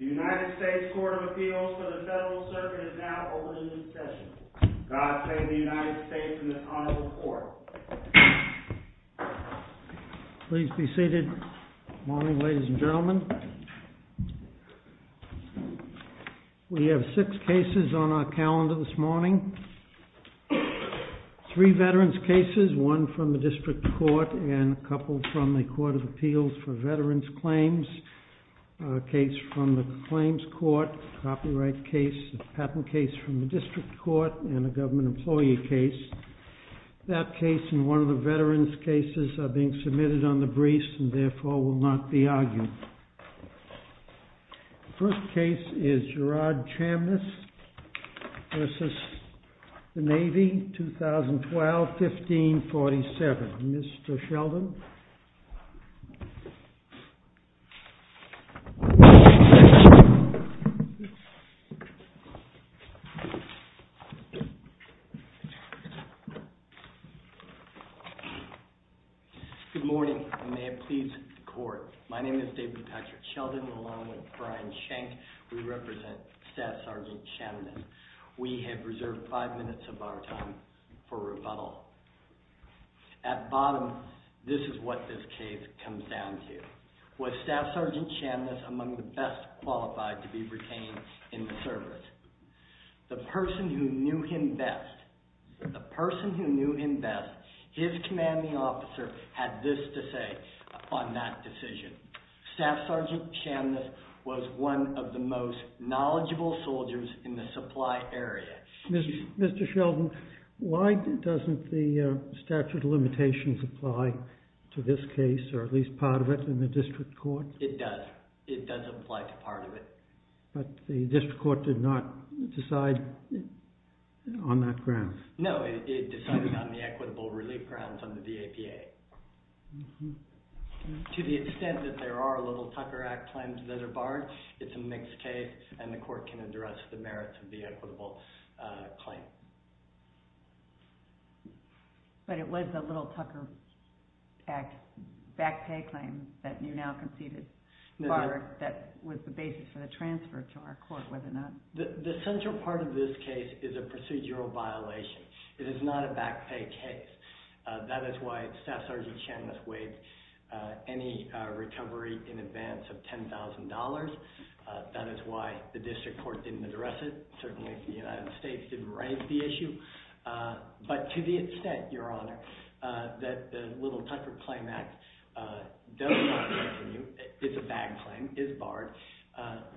The United States Court of Appeals for the Federal Circuit is now open for discussion. God save the United States and the Honorable Court. Please be seated. Good morning, ladies and gentlemen. We have six cases on our calendar this morning. Three veterans' cases, one from the District Court and a couple from the Court of Appeals for Veterans' Claims. A case from the Claims Court, a copyright case, a patent case from the District Court, and a government employee case. That case and one of the veterans' cases are being submitted on the briefs and therefore will not be argued. The first case is Gerard Chamness v. The Navy, 2012-15-47. Mr. Sheldon. Good morning, and may it please the Court. My name is David Patrick Sheldon, along with Brian Schenk. We represent Staff Sergeant Chamness. We have reserved five minutes of our time for rebuttal. At bottom, this is what this case comes down to. Was Staff Sergeant Chamness among the best qualified to be retained in the service? The person who knew him best, the person who knew him best, his commanding officer, had this to say on that decision. Staff Sergeant Chamness was one of the most knowledgeable soldiers in the supply area. Mr. Sheldon, why doesn't the statute of limitations apply to this case, or at least part of it, in the District Court? It does. It does apply to part of it. But the District Court did not decide on that ground. No, it decided on the equitable relief grounds under the APA. To the extent that there are Little Tucker Act claims that are barred, it's a mixed case, and the Court can address the merits of the equitable claim. But it was the Little Tucker Act back pay claim that you now conceded that was the basis for the transfer to our Court, was it not? The central part of this case is a procedural violation. It is not a back pay case. That is why Staff Sergeant Chamness waived any recovery in advance of $10,000. That is why the District Court didn't address it, certainly if the United States didn't raise the issue. But to the extent, Your Honor, that the Little Tucker Claim Act does not apply to you, it's a back claim, is barred,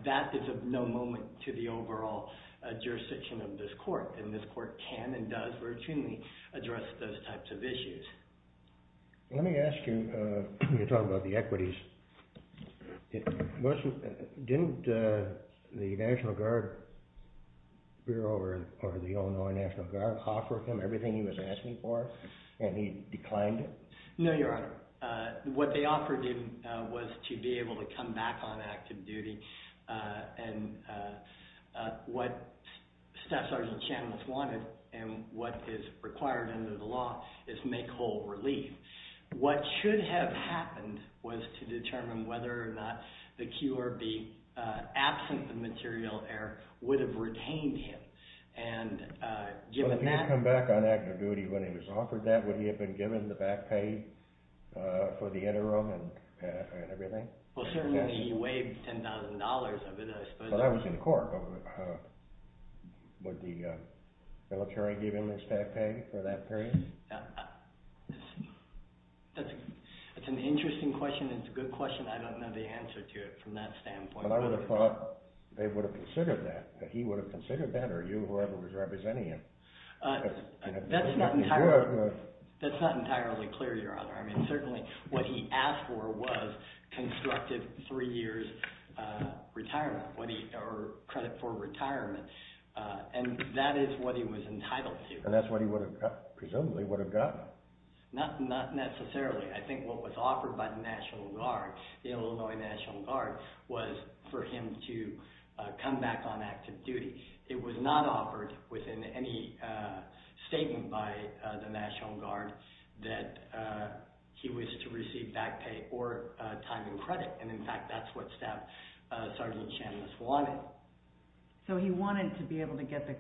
that is of no moment to the overall jurisdiction of this Court. And this Court can and does routinely address those types of issues. Let me ask you, when you talk about the equities, didn't the National Guard Bureau or the Illinois National Guard offer him everything he was asking for, and he declined it? No, Your Honor. What they offered him was to be able to come back on active duty, and what Staff Sergeant Chamness wanted, and what is required under the law, is make whole relief. What should have happened was to determine whether or not the QRB, absent the material error, would have retained him. If he had come back on active duty when he was offered that, would he have been given the back pay for the interim and everything? Well, certainly he waived $10,000 of it, I suppose. But I was in court. Would the military give him his back pay for that period? That's an interesting question. It's a good question. I don't know the answer to it from that standpoint. But I would have thought they would have considered that, that he would have considered that, or you or whoever was representing him. That's not entirely clear, Your Honor. I mean, certainly what he asked for was constructive three years' credit for retirement, and that is what he was entitled to. And that's what he presumably would have gotten. Not necessarily. I think what was offered by the National Guard, the Illinois National Guard, was for him to come back on active duty. It was not offered within any statement by the National Guard that he was to receive back pay or time and credit. And in fact, that's what Staff Sergeant Chamness wanted. So he wanted to be able to get the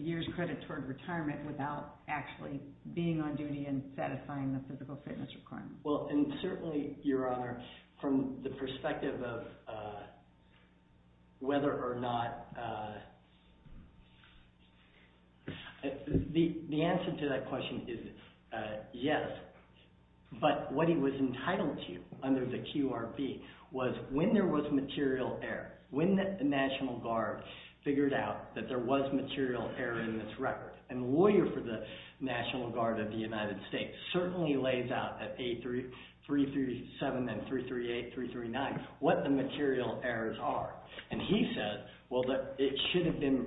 years' credit toward retirement without actually being on duty and satisfying the physical fitness requirements. Well, and certainly, Your Honor, from the perspective of whether or not… The answer to that question is yes. But what he was entitled to under the QRP was when there was material error. When the National Guard figured out that there was material error in this record. And the lawyer for the National Guard of the United States certainly lays out at A337 and 338, 339, what the material errors are. And he said, well, that it should have been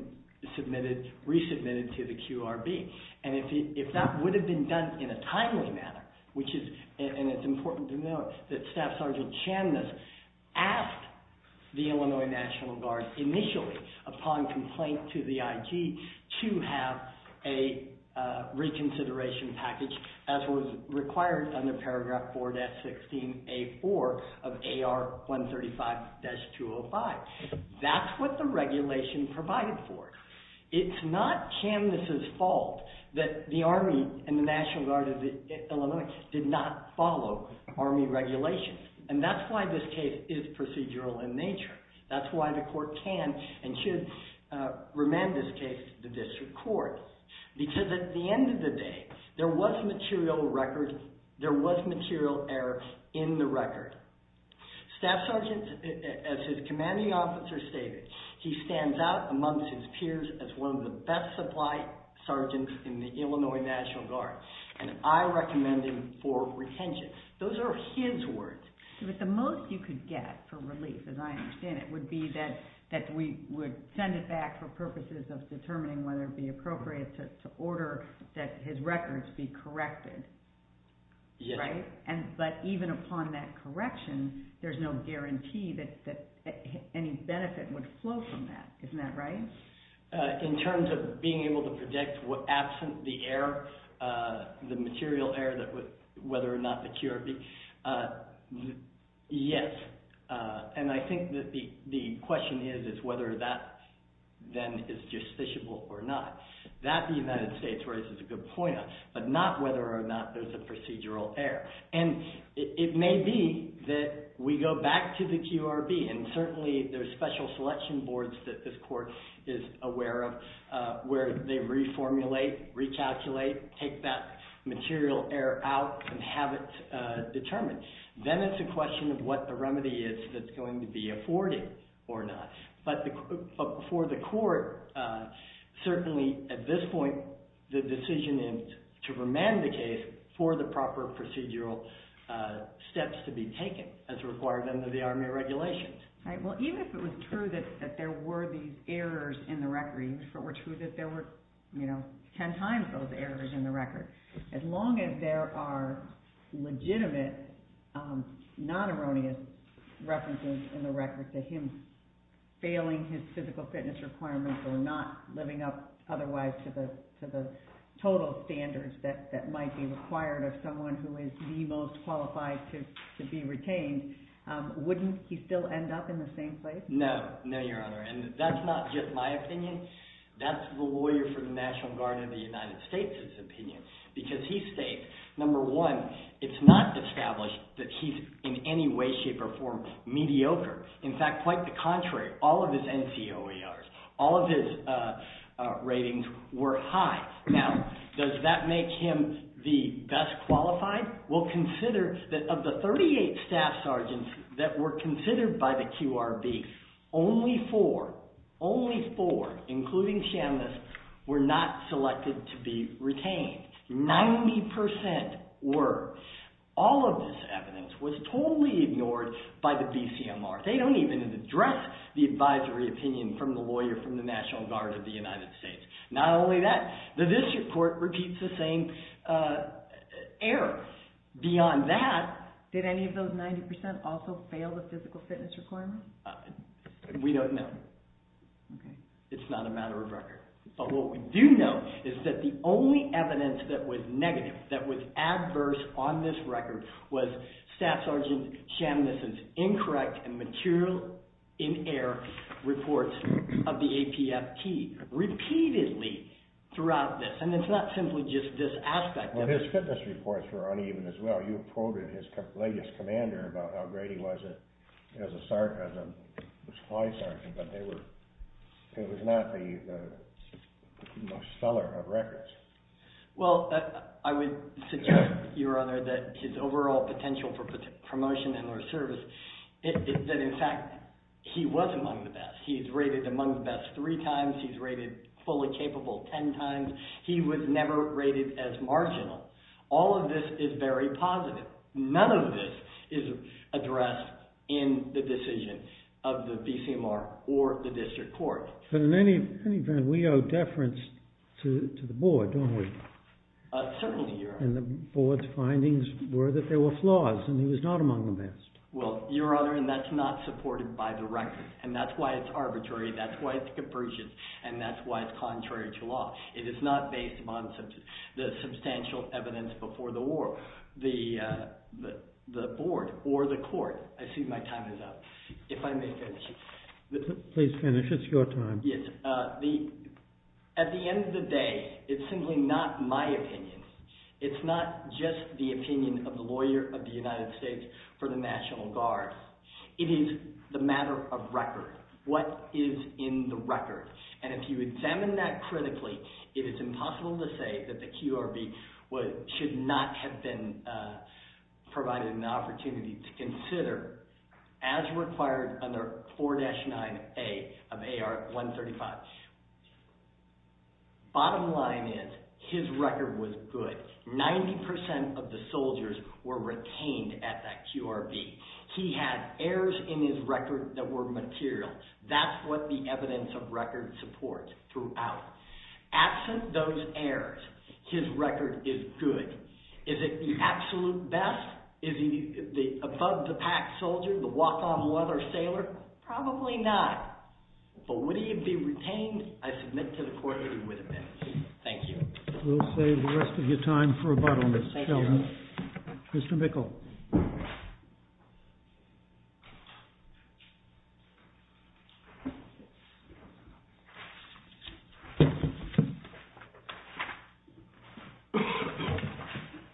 submitted, resubmitted to the QRP. And if that would have been done in a timely manner, which is… And it's important to note that Staff Sergeant Chamness asked the Illinois National Guard initially upon complaint to the IG to have a reconsideration package as was required under paragraph 4-16-A-4 of AR-135-205. That's what the regulation provided for. It's not Chamness's fault that the Army and the National Guard of Illinois did not follow Army regulations. And that's why this case is procedural in nature. That's why the court can and should remand this case to the district court. Because at the end of the day, there was material error in the record. Staff Sergeant, as his commanding officer stated, he stands out amongst his peers as one of the best supply sergeants in the Illinois National Guard. And I recommend him for retention. Those are his words. But the most you could get for relief, as I understand it, would be that we would send it back for purposes of determining whether it would be appropriate to order that his records be corrected. Right? But even upon that correction, there's no guarantee that any benefit would flow from that. Isn't that right? In terms of being able to predict absent the error, the material error, whether or not the QRB, yes. And I think that the question is whether that then is justiciable or not. That, the United States raises a good point on. But not whether or not there's a procedural error. And it may be that we go back to the QRB, and certainly there's special selection boards that this court is aware of, where they reformulate, recalculate, take that material error out, and have it determined. Then it's a question of what the remedy is that's going to be afforded or not. But for the court, certainly at this point, the decision is to remand the case for the proper procedural steps to be taken as required under the Army regulations. Right. Well, even if it was true that there were these errors in the record, if it were true that there were, you know, ten times those errors in the record, as long as there are legitimate, non-erroneous references in the record to him failing his physical fitness requirements or not living up otherwise to the total standards that might be required of someone who is the most qualified to be retained, wouldn't he still end up in the same place? No. No, Your Honor. And that's not just my opinion. That's the lawyer for the National Guard of the United States' opinion. Because he states, number one, it's not established that he's in any way, shape, or form mediocre. In fact, quite the contrary, all of his NCOERs, all of his ratings were high. Now, does that make him the best qualified? Well, consider that of the 38 staff sergeants that were considered by the QRB, only four, only four, including Chambliss, were not selected to be retained. Ninety percent were. All of this evidence was totally ignored by the BCMR. They don't even address the advisory opinion from the lawyer from the National Guard of the United States. Not only that, this report repeats the same error. Beyond that… Did any of those 90% also fail the physical fitness requirements? We don't know. It's not a matter of record. But what we do know is that the only evidence that was negative, that was adverse on this record, was Staff Sergeant Chambliss' incorrect and material in-air reports of the APFT, repeatedly throughout this. And it's not simply just this aspect of it. But his fitness reports were uneven as well. You have quoted his latest commander about how great he was as a Sergeant, as a Supply Sergeant, but they were, it was not the most stellar of records. Well, I would suggest, Your Honor, that his overall potential for promotion and or service, that in fact, he was among the best. He's rated among the best three times. He's rated fully capable ten times. He was never rated as marginal. All of this is very positive. None of this is addressed in the decision of the BCMR or the district court. But in any event, we owe deference to the board, don't we? Certainly, Your Honor. And the board's findings were that there were flaws, and he was not among the best. Well, Your Honor, and that's not supported by the record. And that's why it's arbitrary. That's why it's capricious. And that's why it's contrary to law. It is not based upon the substantial evidence before the war, the board or the court. I see my time is up. If I may finish. Please finish. It's your time. At the end of the day, it's simply not my opinion. It's not just the opinion of the lawyer of the United States for the National Guard. It is the matter of record. What is in the record? And if you examine that critically, it is impossible to say that the QRB should not have been provided an opportunity to consider as required under 4-9A of AR 135. Bottom line is, his record was good. 90% of the soldiers were retained at that QRB. He had errors in his record that were material. That's what the evidence of record supports throughout. Absent those errors, his record is good. Is it the absolute best? Is he the above-the-pack soldier, the walk-on leather sailor? Probably not. But would he be retained? I submit to the court that he would have been. Thank you. We'll save the rest of your time for rebuttal, Ms. Sheldon. Thank you, Your Honor. Mr. Bickel.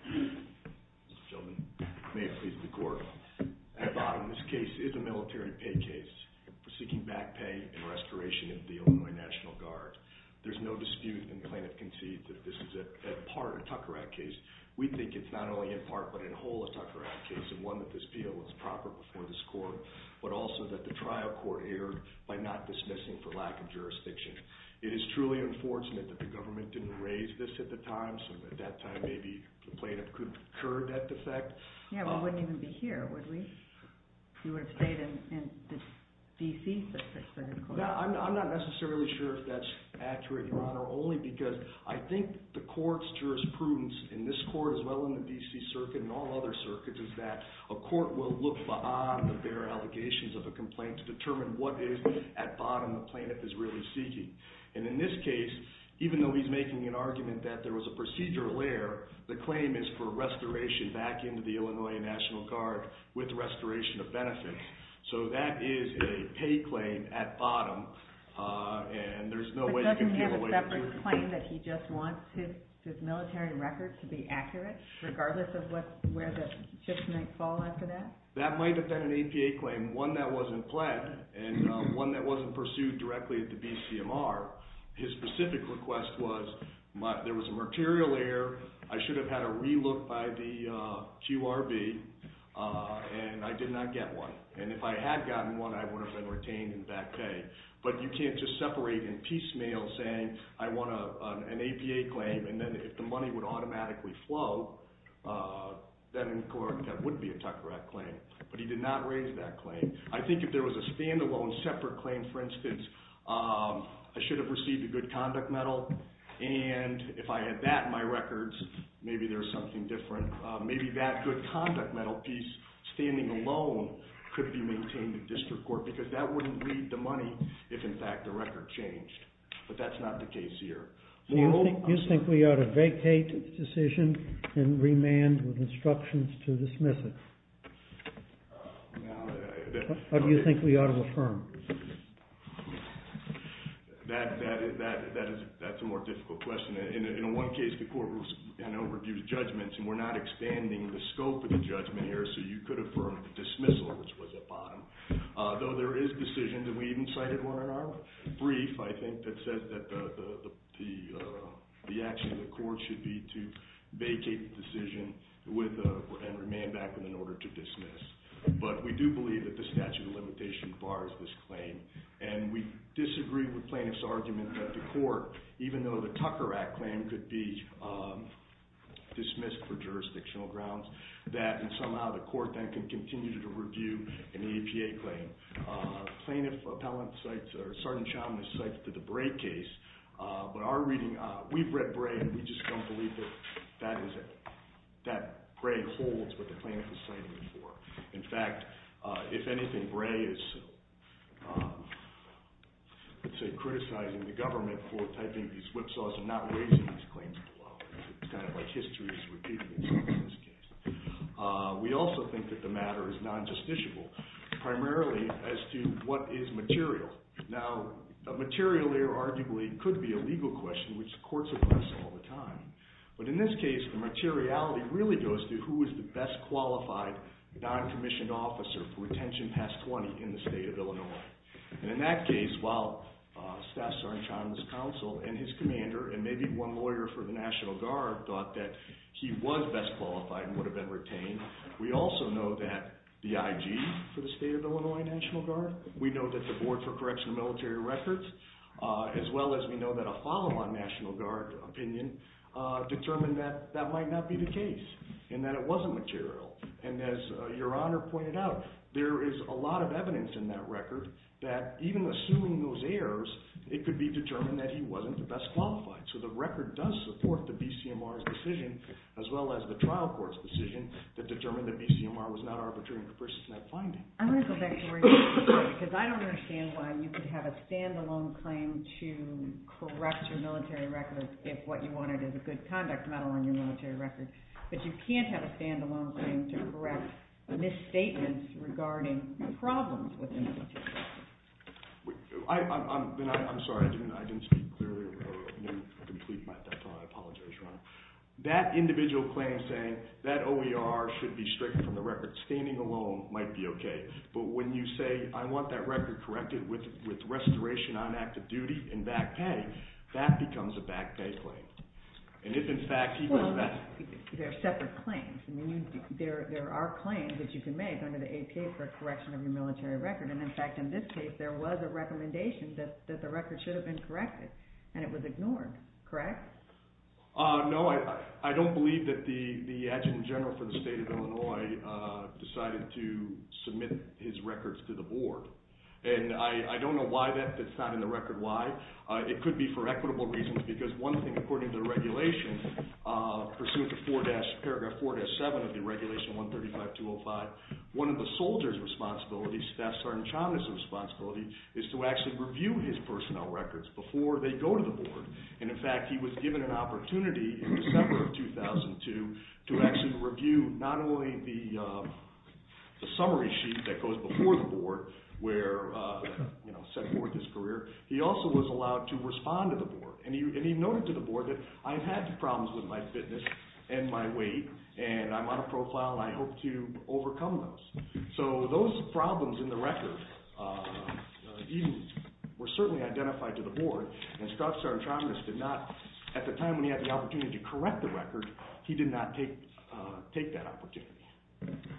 Mr. Sheldon, may it please the court. At bottom, this case is a military pay case for seeking back pay and restoration of the Illinois National Guard. There's no dispute in plaintiff-conceived that this is a part of a Tucker Act case. We think it's not only in part but in whole a Tucker Act case, and one that this appeal was proper before this court, but also that the trial court erred by not dismissing for lack of jurisdiction. It is truly unfortunate that the government didn't raise this at the time, so at that time maybe the plaintiff could have incurred that defect. Yeah, but it wouldn't even be here, would we? He would have stayed in the D.C. I'm not necessarily sure if that's accurate, Your Honor, only because I think the court's jurisprudence in this court as well as in the D.C. Circuit and all other circuits is that a court will look beyond the bare allegations of a complaint to determine what is at bottom the plaintiff is really seeking. And in this case, even though he's making an argument that there was a procedural error, the claim is for restoration back into the Illinois National Guard with restoration of benefits. So that is a pay claim at bottom, and there's no way you can get away with it. But doesn't he have a separate claim that he just wants his military record to be accurate regardless of where the chips might fall after that? That might have been an APA claim, one that wasn't pledged and one that wasn't pursued directly at the BCMR. His specific request was there was a material error, I should have had a relook by the QRB, and I did not get one. And if I had gotten one, I would have been retained in back pay. But you can't just separate in piecemeal saying I want an APA claim, and then if the money would automatically flow, then in court that would be a Tucker Act claim. But he did not raise that claim. I think if there was a standalone separate claim, for instance, I should have received a good conduct medal, and if I had that in my records, maybe there's something different. Maybe that good conduct medal piece standing alone could be maintained in district court, because that wouldn't read the money if in fact the record changed. But that's not the case here. Do you think we ought to vacate the decision and remand with instructions to dismiss it? Or do you think we ought to affirm? That's a more difficult question. In one case, the court reviews judgments, and we're not expanding the scope of the judgment here, so you could affirm the dismissal, which was upon. Though there is a decision, and we even cited one in our brief, I think, that says that the action of the court should be to vacate the decision and remand back in order to dismiss. But we do believe that the statute of limitation bars this claim, and we disagree with plaintiff's argument that the court, even though the Tucker Act claim could be dismissed for jurisdictional grounds, that somehow the court can continue to review an EPA claim. Plaintiff appellant cites, or Sergeant Chalmers cites the Bray case, but our reading, we've read Bray, and we just don't believe that Bray holds what the plaintiff is citing him for. In fact, if anything, Bray is, let's say, criticizing the government for typing these whipsaws and not raising these claims below. It's kind of like history is repeating itself in this case. We also think that the matter is non-justiciable, primarily as to what is material. Now, material there arguably could be a legal question, which courts address all the time. But in this case, the materiality really goes to who is the best qualified non-commissioned officer for retention past 20 in the state of Illinois. And in that case, while Staff Sergeant Chalmers' counsel and his commander, and maybe one lawyer for the National Guard, thought that he was best qualified and would have been retained, we also know that the IG for the state of Illinois National Guard, we know that the Board for Correctional Military Records, as well as we know that a follow-on National Guard opinion determined that that might not be the case, and that it wasn't material. And as Your Honor pointed out, there is a lot of evidence in that record that, even assuming those errors, it could be determined that he wasn't the best qualified. So the record does support the BCMR's decision, as well as the trial court's decision, that determined that BCMR was not arbitrating the person's net finding. I'm going to go back to where you were, because I don't understand why you could have a stand-alone claim to correct your military records if what you wanted is a good conduct medal on your military record. But you can't have a stand-alone claim to correct misstatements regarding problems within the institution. I'm sorry, I didn't speak clearly, I didn't complete my thought, I apologize, Your Honor. That individual claim saying that OER should be stricken from the record standing alone might be okay. But when you say, I want that record corrected with restoration on active duty and back pay, that becomes a back pay claim. There are separate claims. There are claims that you can make under the APA for a correction of your military record. And in fact, in this case, there was a recommendation that the record should have been corrected, and it was ignored. Correct? No, I don't believe that the Adjutant General for the State of Illinois decided to submit his records to the board. And I don't know why that's not in the record. Why? It could be for equitable reasons, because one thing, according to the regulation, pursuant to paragraph 4-7 of the Regulation 135-205, one of the soldier's responsibilities, Staff Sergeant Chaumet's responsibility, is to actually review his personnel records before they go to the board. And in fact, he was given an opportunity in December of 2002 to actually review not only the summary sheet that goes before the board, where, you know, set forth his career, he also was allowed to respond to the board. And he noted to the board that, I've had problems with my fitness and my weight, and I'm on a profile, and I hope to overcome those. So those problems in the record were certainly identified to the board. And Staff Sergeant Chaumet did not, at the time when he had the opportunity to correct the record, he did not take that opportunity.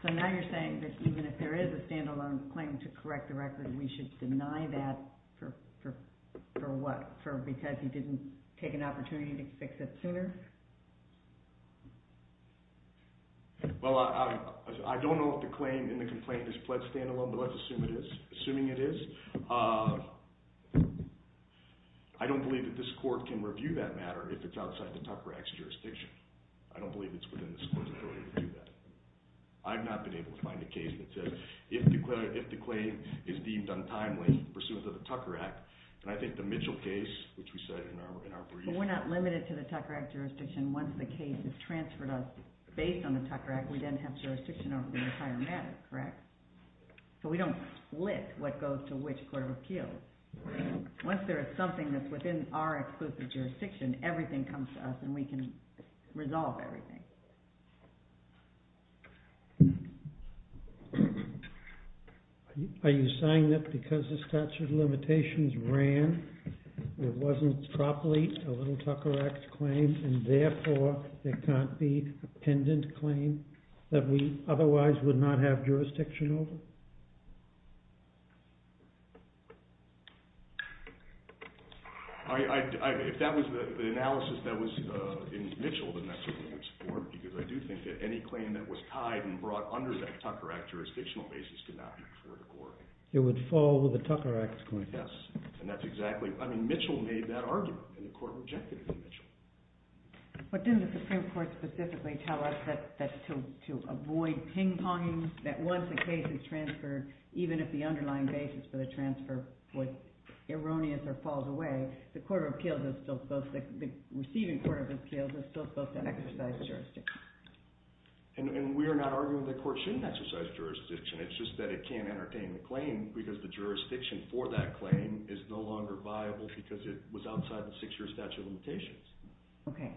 So now you're saying that even if there is a stand-alone claim to correct the record, we should deny that for what? For because he didn't take an opportunity to fix it sooner? Well, I don't know if the claim in the complaint is pled stand-alone, but let's assume it is. Assuming it is, I don't believe that this court can review that matter if it's outside the Tupper Act's jurisdiction. I don't believe it's within this court's ability to do that. I've not been able to find a case that says if the claim is deemed untimely pursuant to the Tucker Act, and I think the Mitchell case, which we said in our brief… But we're not limited to the Tucker Act jurisdiction. Once the case is transferred out based on the Tucker Act, we then have jurisdiction over the entire matter, correct? So we don't split what goes to which court of appeals. Once there is something that's within our exclusive jurisdiction, everything comes to us and we can resolve everything. Are you saying that because the statute of limitations ran, there wasn't properly a little Tucker Act claim, and therefore there can't be a pendant claim that we otherwise would not have jurisdiction over? If that was the analysis that was in Mitchell, then that certainly would support it, because I do think that any claim that was tied and brought under that Tucker Act jurisdictional basis could not be before the court. It would fall with the Tucker Act's claim. Yes, and that's exactly… I mean, Mitchell made that argument, and the court rejected it in Mitchell. But didn't the Supreme Court specifically tell us that to avoid ping-ponging, that once the case is transferred, even if the underlying basis for the transfer was erroneous or falls away, the receiving court of appeals is still supposed to exercise jurisdiction? And we are not arguing that the court shouldn't exercise jurisdiction. It's just that it can't entertain the claim because the jurisdiction for that claim is no longer viable because it was outside the six-year statute of limitations. Okay.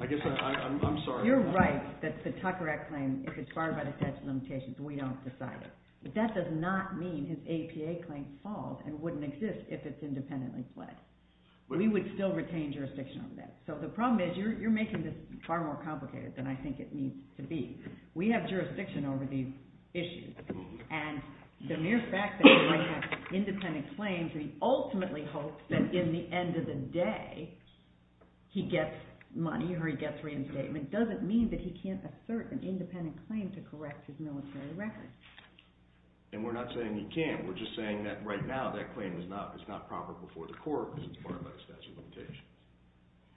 I guess I'm sorry. You're right that the Tucker Act claim, if it's barred by the statute of limitations, we don't decide it. But that does not mean his APA claim falls and wouldn't exist if it's independently fled. We would still retain jurisdiction over that. So the problem is you're making this far more complicated than I think it needs to be. We have jurisdiction over these issues, and the mere fact that he might have independent claims, and he ultimately hopes that in the end of the day he gets money or he gets reinstatement, doesn't mean that he can't assert an independent claim to correct his military record. And we're not saying he can't. We're just saying that right now that claim is not proper before the court because it's barred by the statute of limitations.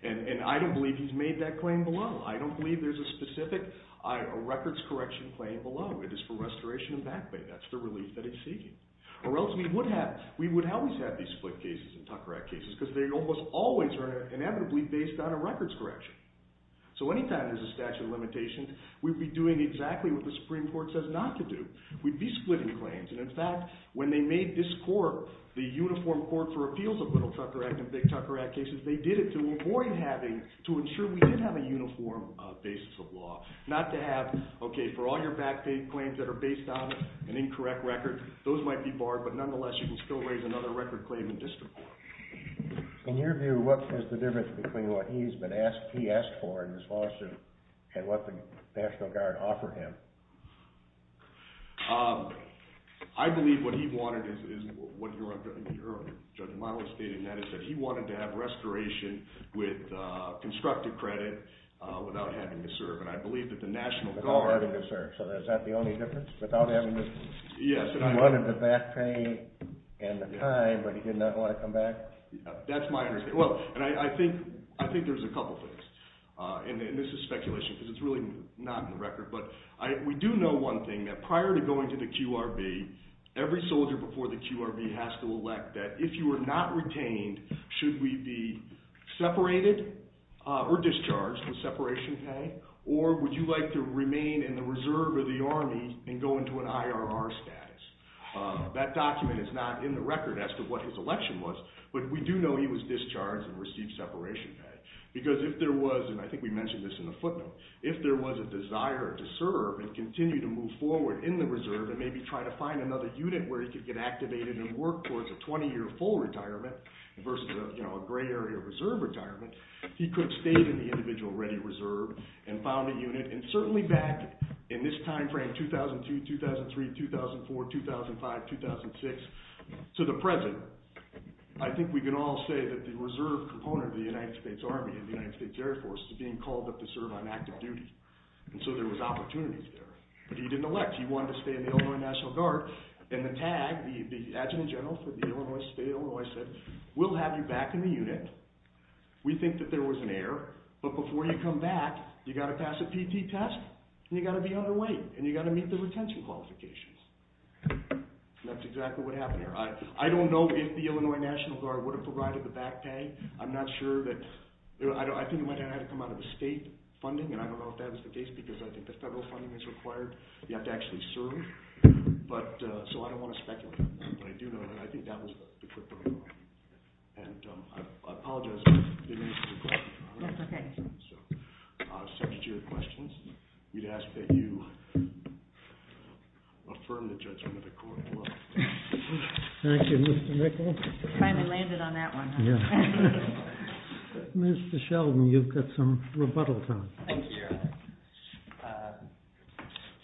And I don't believe he's made that claim below. I don't believe there's a specific records correction claim below. It is for restoration and backbite. That's the relief that he's seeking. Or else we would always have these split cases and Tucker Act cases because they almost always are inevitably based on a records correction. So any time there's a statute of limitations, we'd be doing exactly what the Supreme Court says not to do. We'd be splitting claims. And, in fact, when they made this court the uniform court for appeals of Little Tucker Act and Big Tucker Act cases, they did it to avoid having to ensure we did have a uniform basis of law, not to have, okay, for all your backdate claims that are based on an incorrect record, those might be barred, but nonetheless you can still raise another record claim in district court. In your view, what is the difference between what he asked for in his lawsuit and what the National Guard offered him? I believe what he wanted is what Judge Milo stated, and that is that he wanted to have restoration with constructive credit without having to serve. And I believe that the National Guard- Without having to serve. So is that the only difference? Without having to- Yes. He wanted the back pay and the time, but he did not want to come back? That's my understanding. Well, and I think there's a couple things. And this is speculation because it's really not in the record. But we do know one thing, that prior to going to the QRB, every soldier before the QRB has to elect that if you are not retained, should we be separated or discharged with separation pay, or would you like to remain in the reserve or the Army and go into an IRR status? That document is not in the record as to what his election was, but we do know he was discharged and received separation pay. Because if there was, and I think we mentioned this in the footnote, if there was a desire to serve and continue to move forward in the reserve and maybe try to find another unit where he could get activated and work towards a 20-year full retirement versus a gray area reserve retirement, he could have stayed in the individual ready reserve and found a unit. And certainly back in this time frame, 2002, 2003, 2004, 2005, 2006 to the present, I think we can all say that the reserve component of the United States Army and the United States Air Force is being called up to serve on active duty. And so there was opportunities there. But he didn't elect. He wanted to stay in the Illinois National Guard. And the tag, the Adjutant General for the Illinois State of Illinois said, we'll have you back in the unit. We think that there was an error, but before you come back, you've got to pass a PT test, and you've got to be underweight, and you've got to meet the retention qualifications. And that's exactly what happened there. I don't know if the Illinois National Guard would have provided the back pay. I'm not sure that – I think it might have had to come out of the state funding, and I don't know if that was the case because I think the federal funding is required. You have to actually serve. So I don't want to speculate on that. But I do know that I think that was the criteria. And I apologize if I didn't answer your question. That's okay. So subject to your questions, we'd ask that you affirm the judgment of the court. Thank you, Mr. Nichol. I finally landed on that one. Mr. Sheldon, you've got some rebuttal time. Thank you.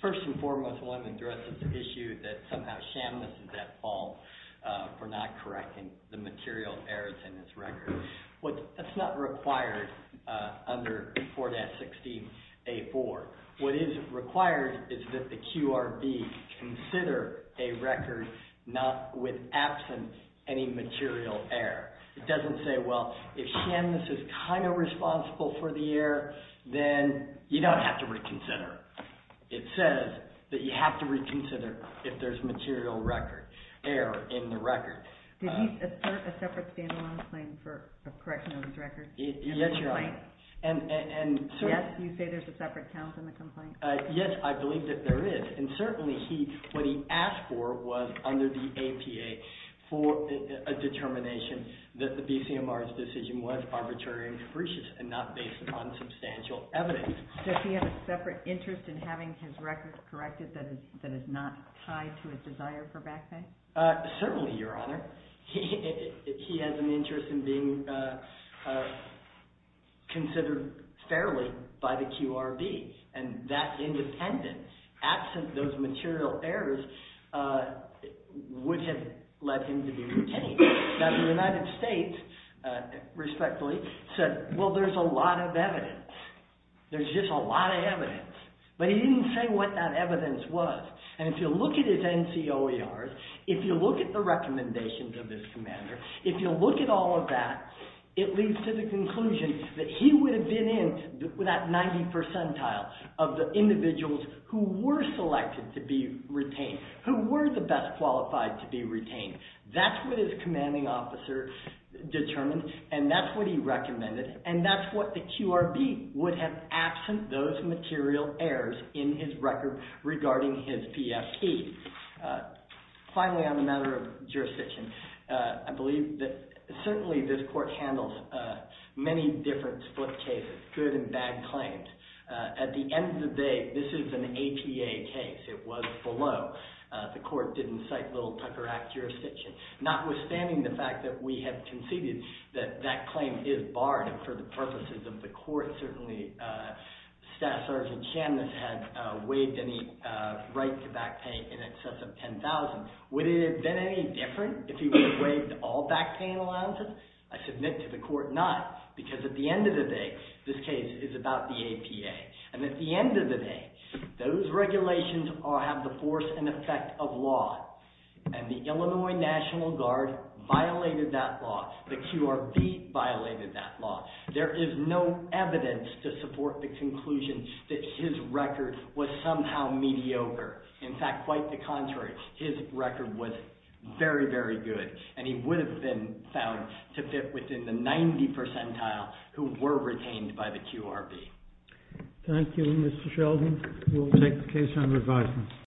First and foremost, one addresses the issue that somehow Shamliss is at fault for not correcting the material errors in his record. That's not required under 4-16-A-4. What is required is that the QRB consider a record with absent any material error. It doesn't say, well, if Shamliss is kind of responsible for the error, then you don't have to reconsider. It says that you have to reconsider if there's material error in the record. Did he assert a separate stand-alone complaint for a correction of his record? Yes, Your Honor. Yes? You say there's a separate count in the complaint? Yes, I believe that there is. And certainly what he asked for was under the APA for a determination that the BCMR's decision was arbitrary and capricious and not based upon substantial evidence. Does he have a separate interest in having his record corrected that is not tied to his desire for back pay? Certainly, Your Honor. He has an interest in being considered fairly by the QRB. And that independence, absent those material errors, would have led him to be retained. Now, the United States, respectfully, said, well, there's a lot of evidence. There's just a lot of evidence. But he didn't say what that evidence was. And if you look at his NCOERs, if you look at the recommendations of this commander, if you look at all of that, it leads to the conclusion that he would have been in that 90 percentile of the individuals who were selected to be retained, who were the best qualified to be retained. That's what his commanding officer determined. And that's what he recommended. And that's what the QRB would have absent those material errors in his record regarding his PFP. Finally, on the matter of jurisdiction, I believe that certainly this court handles many different split cases, good and bad claims. At the end of the day, this is an APA case. It was below. The court didn't cite Little Tucker Act jurisdiction. Notwithstanding the fact that we have conceded that that claim is barred for the purposes of the court, certainly Staff Sergeant Chambliss had waived any right to back pay in excess of $10,000. Would it have been any different if he would have waived all back pay allowances? I submit to the court not, because at the end of the day, this case is about the APA. And at the end of the day, those regulations have the force and effect of law. And the Illinois National Guard violated that law. The QRB violated that law. There is no evidence to support the conclusion that his record was somehow mediocre. In fact, quite the contrary, his record was very, very good. And he would have been found to fit within the 90 percentile who were retained by the QRB. Thank you, Mr. Sheldon. We'll take the case under advisement.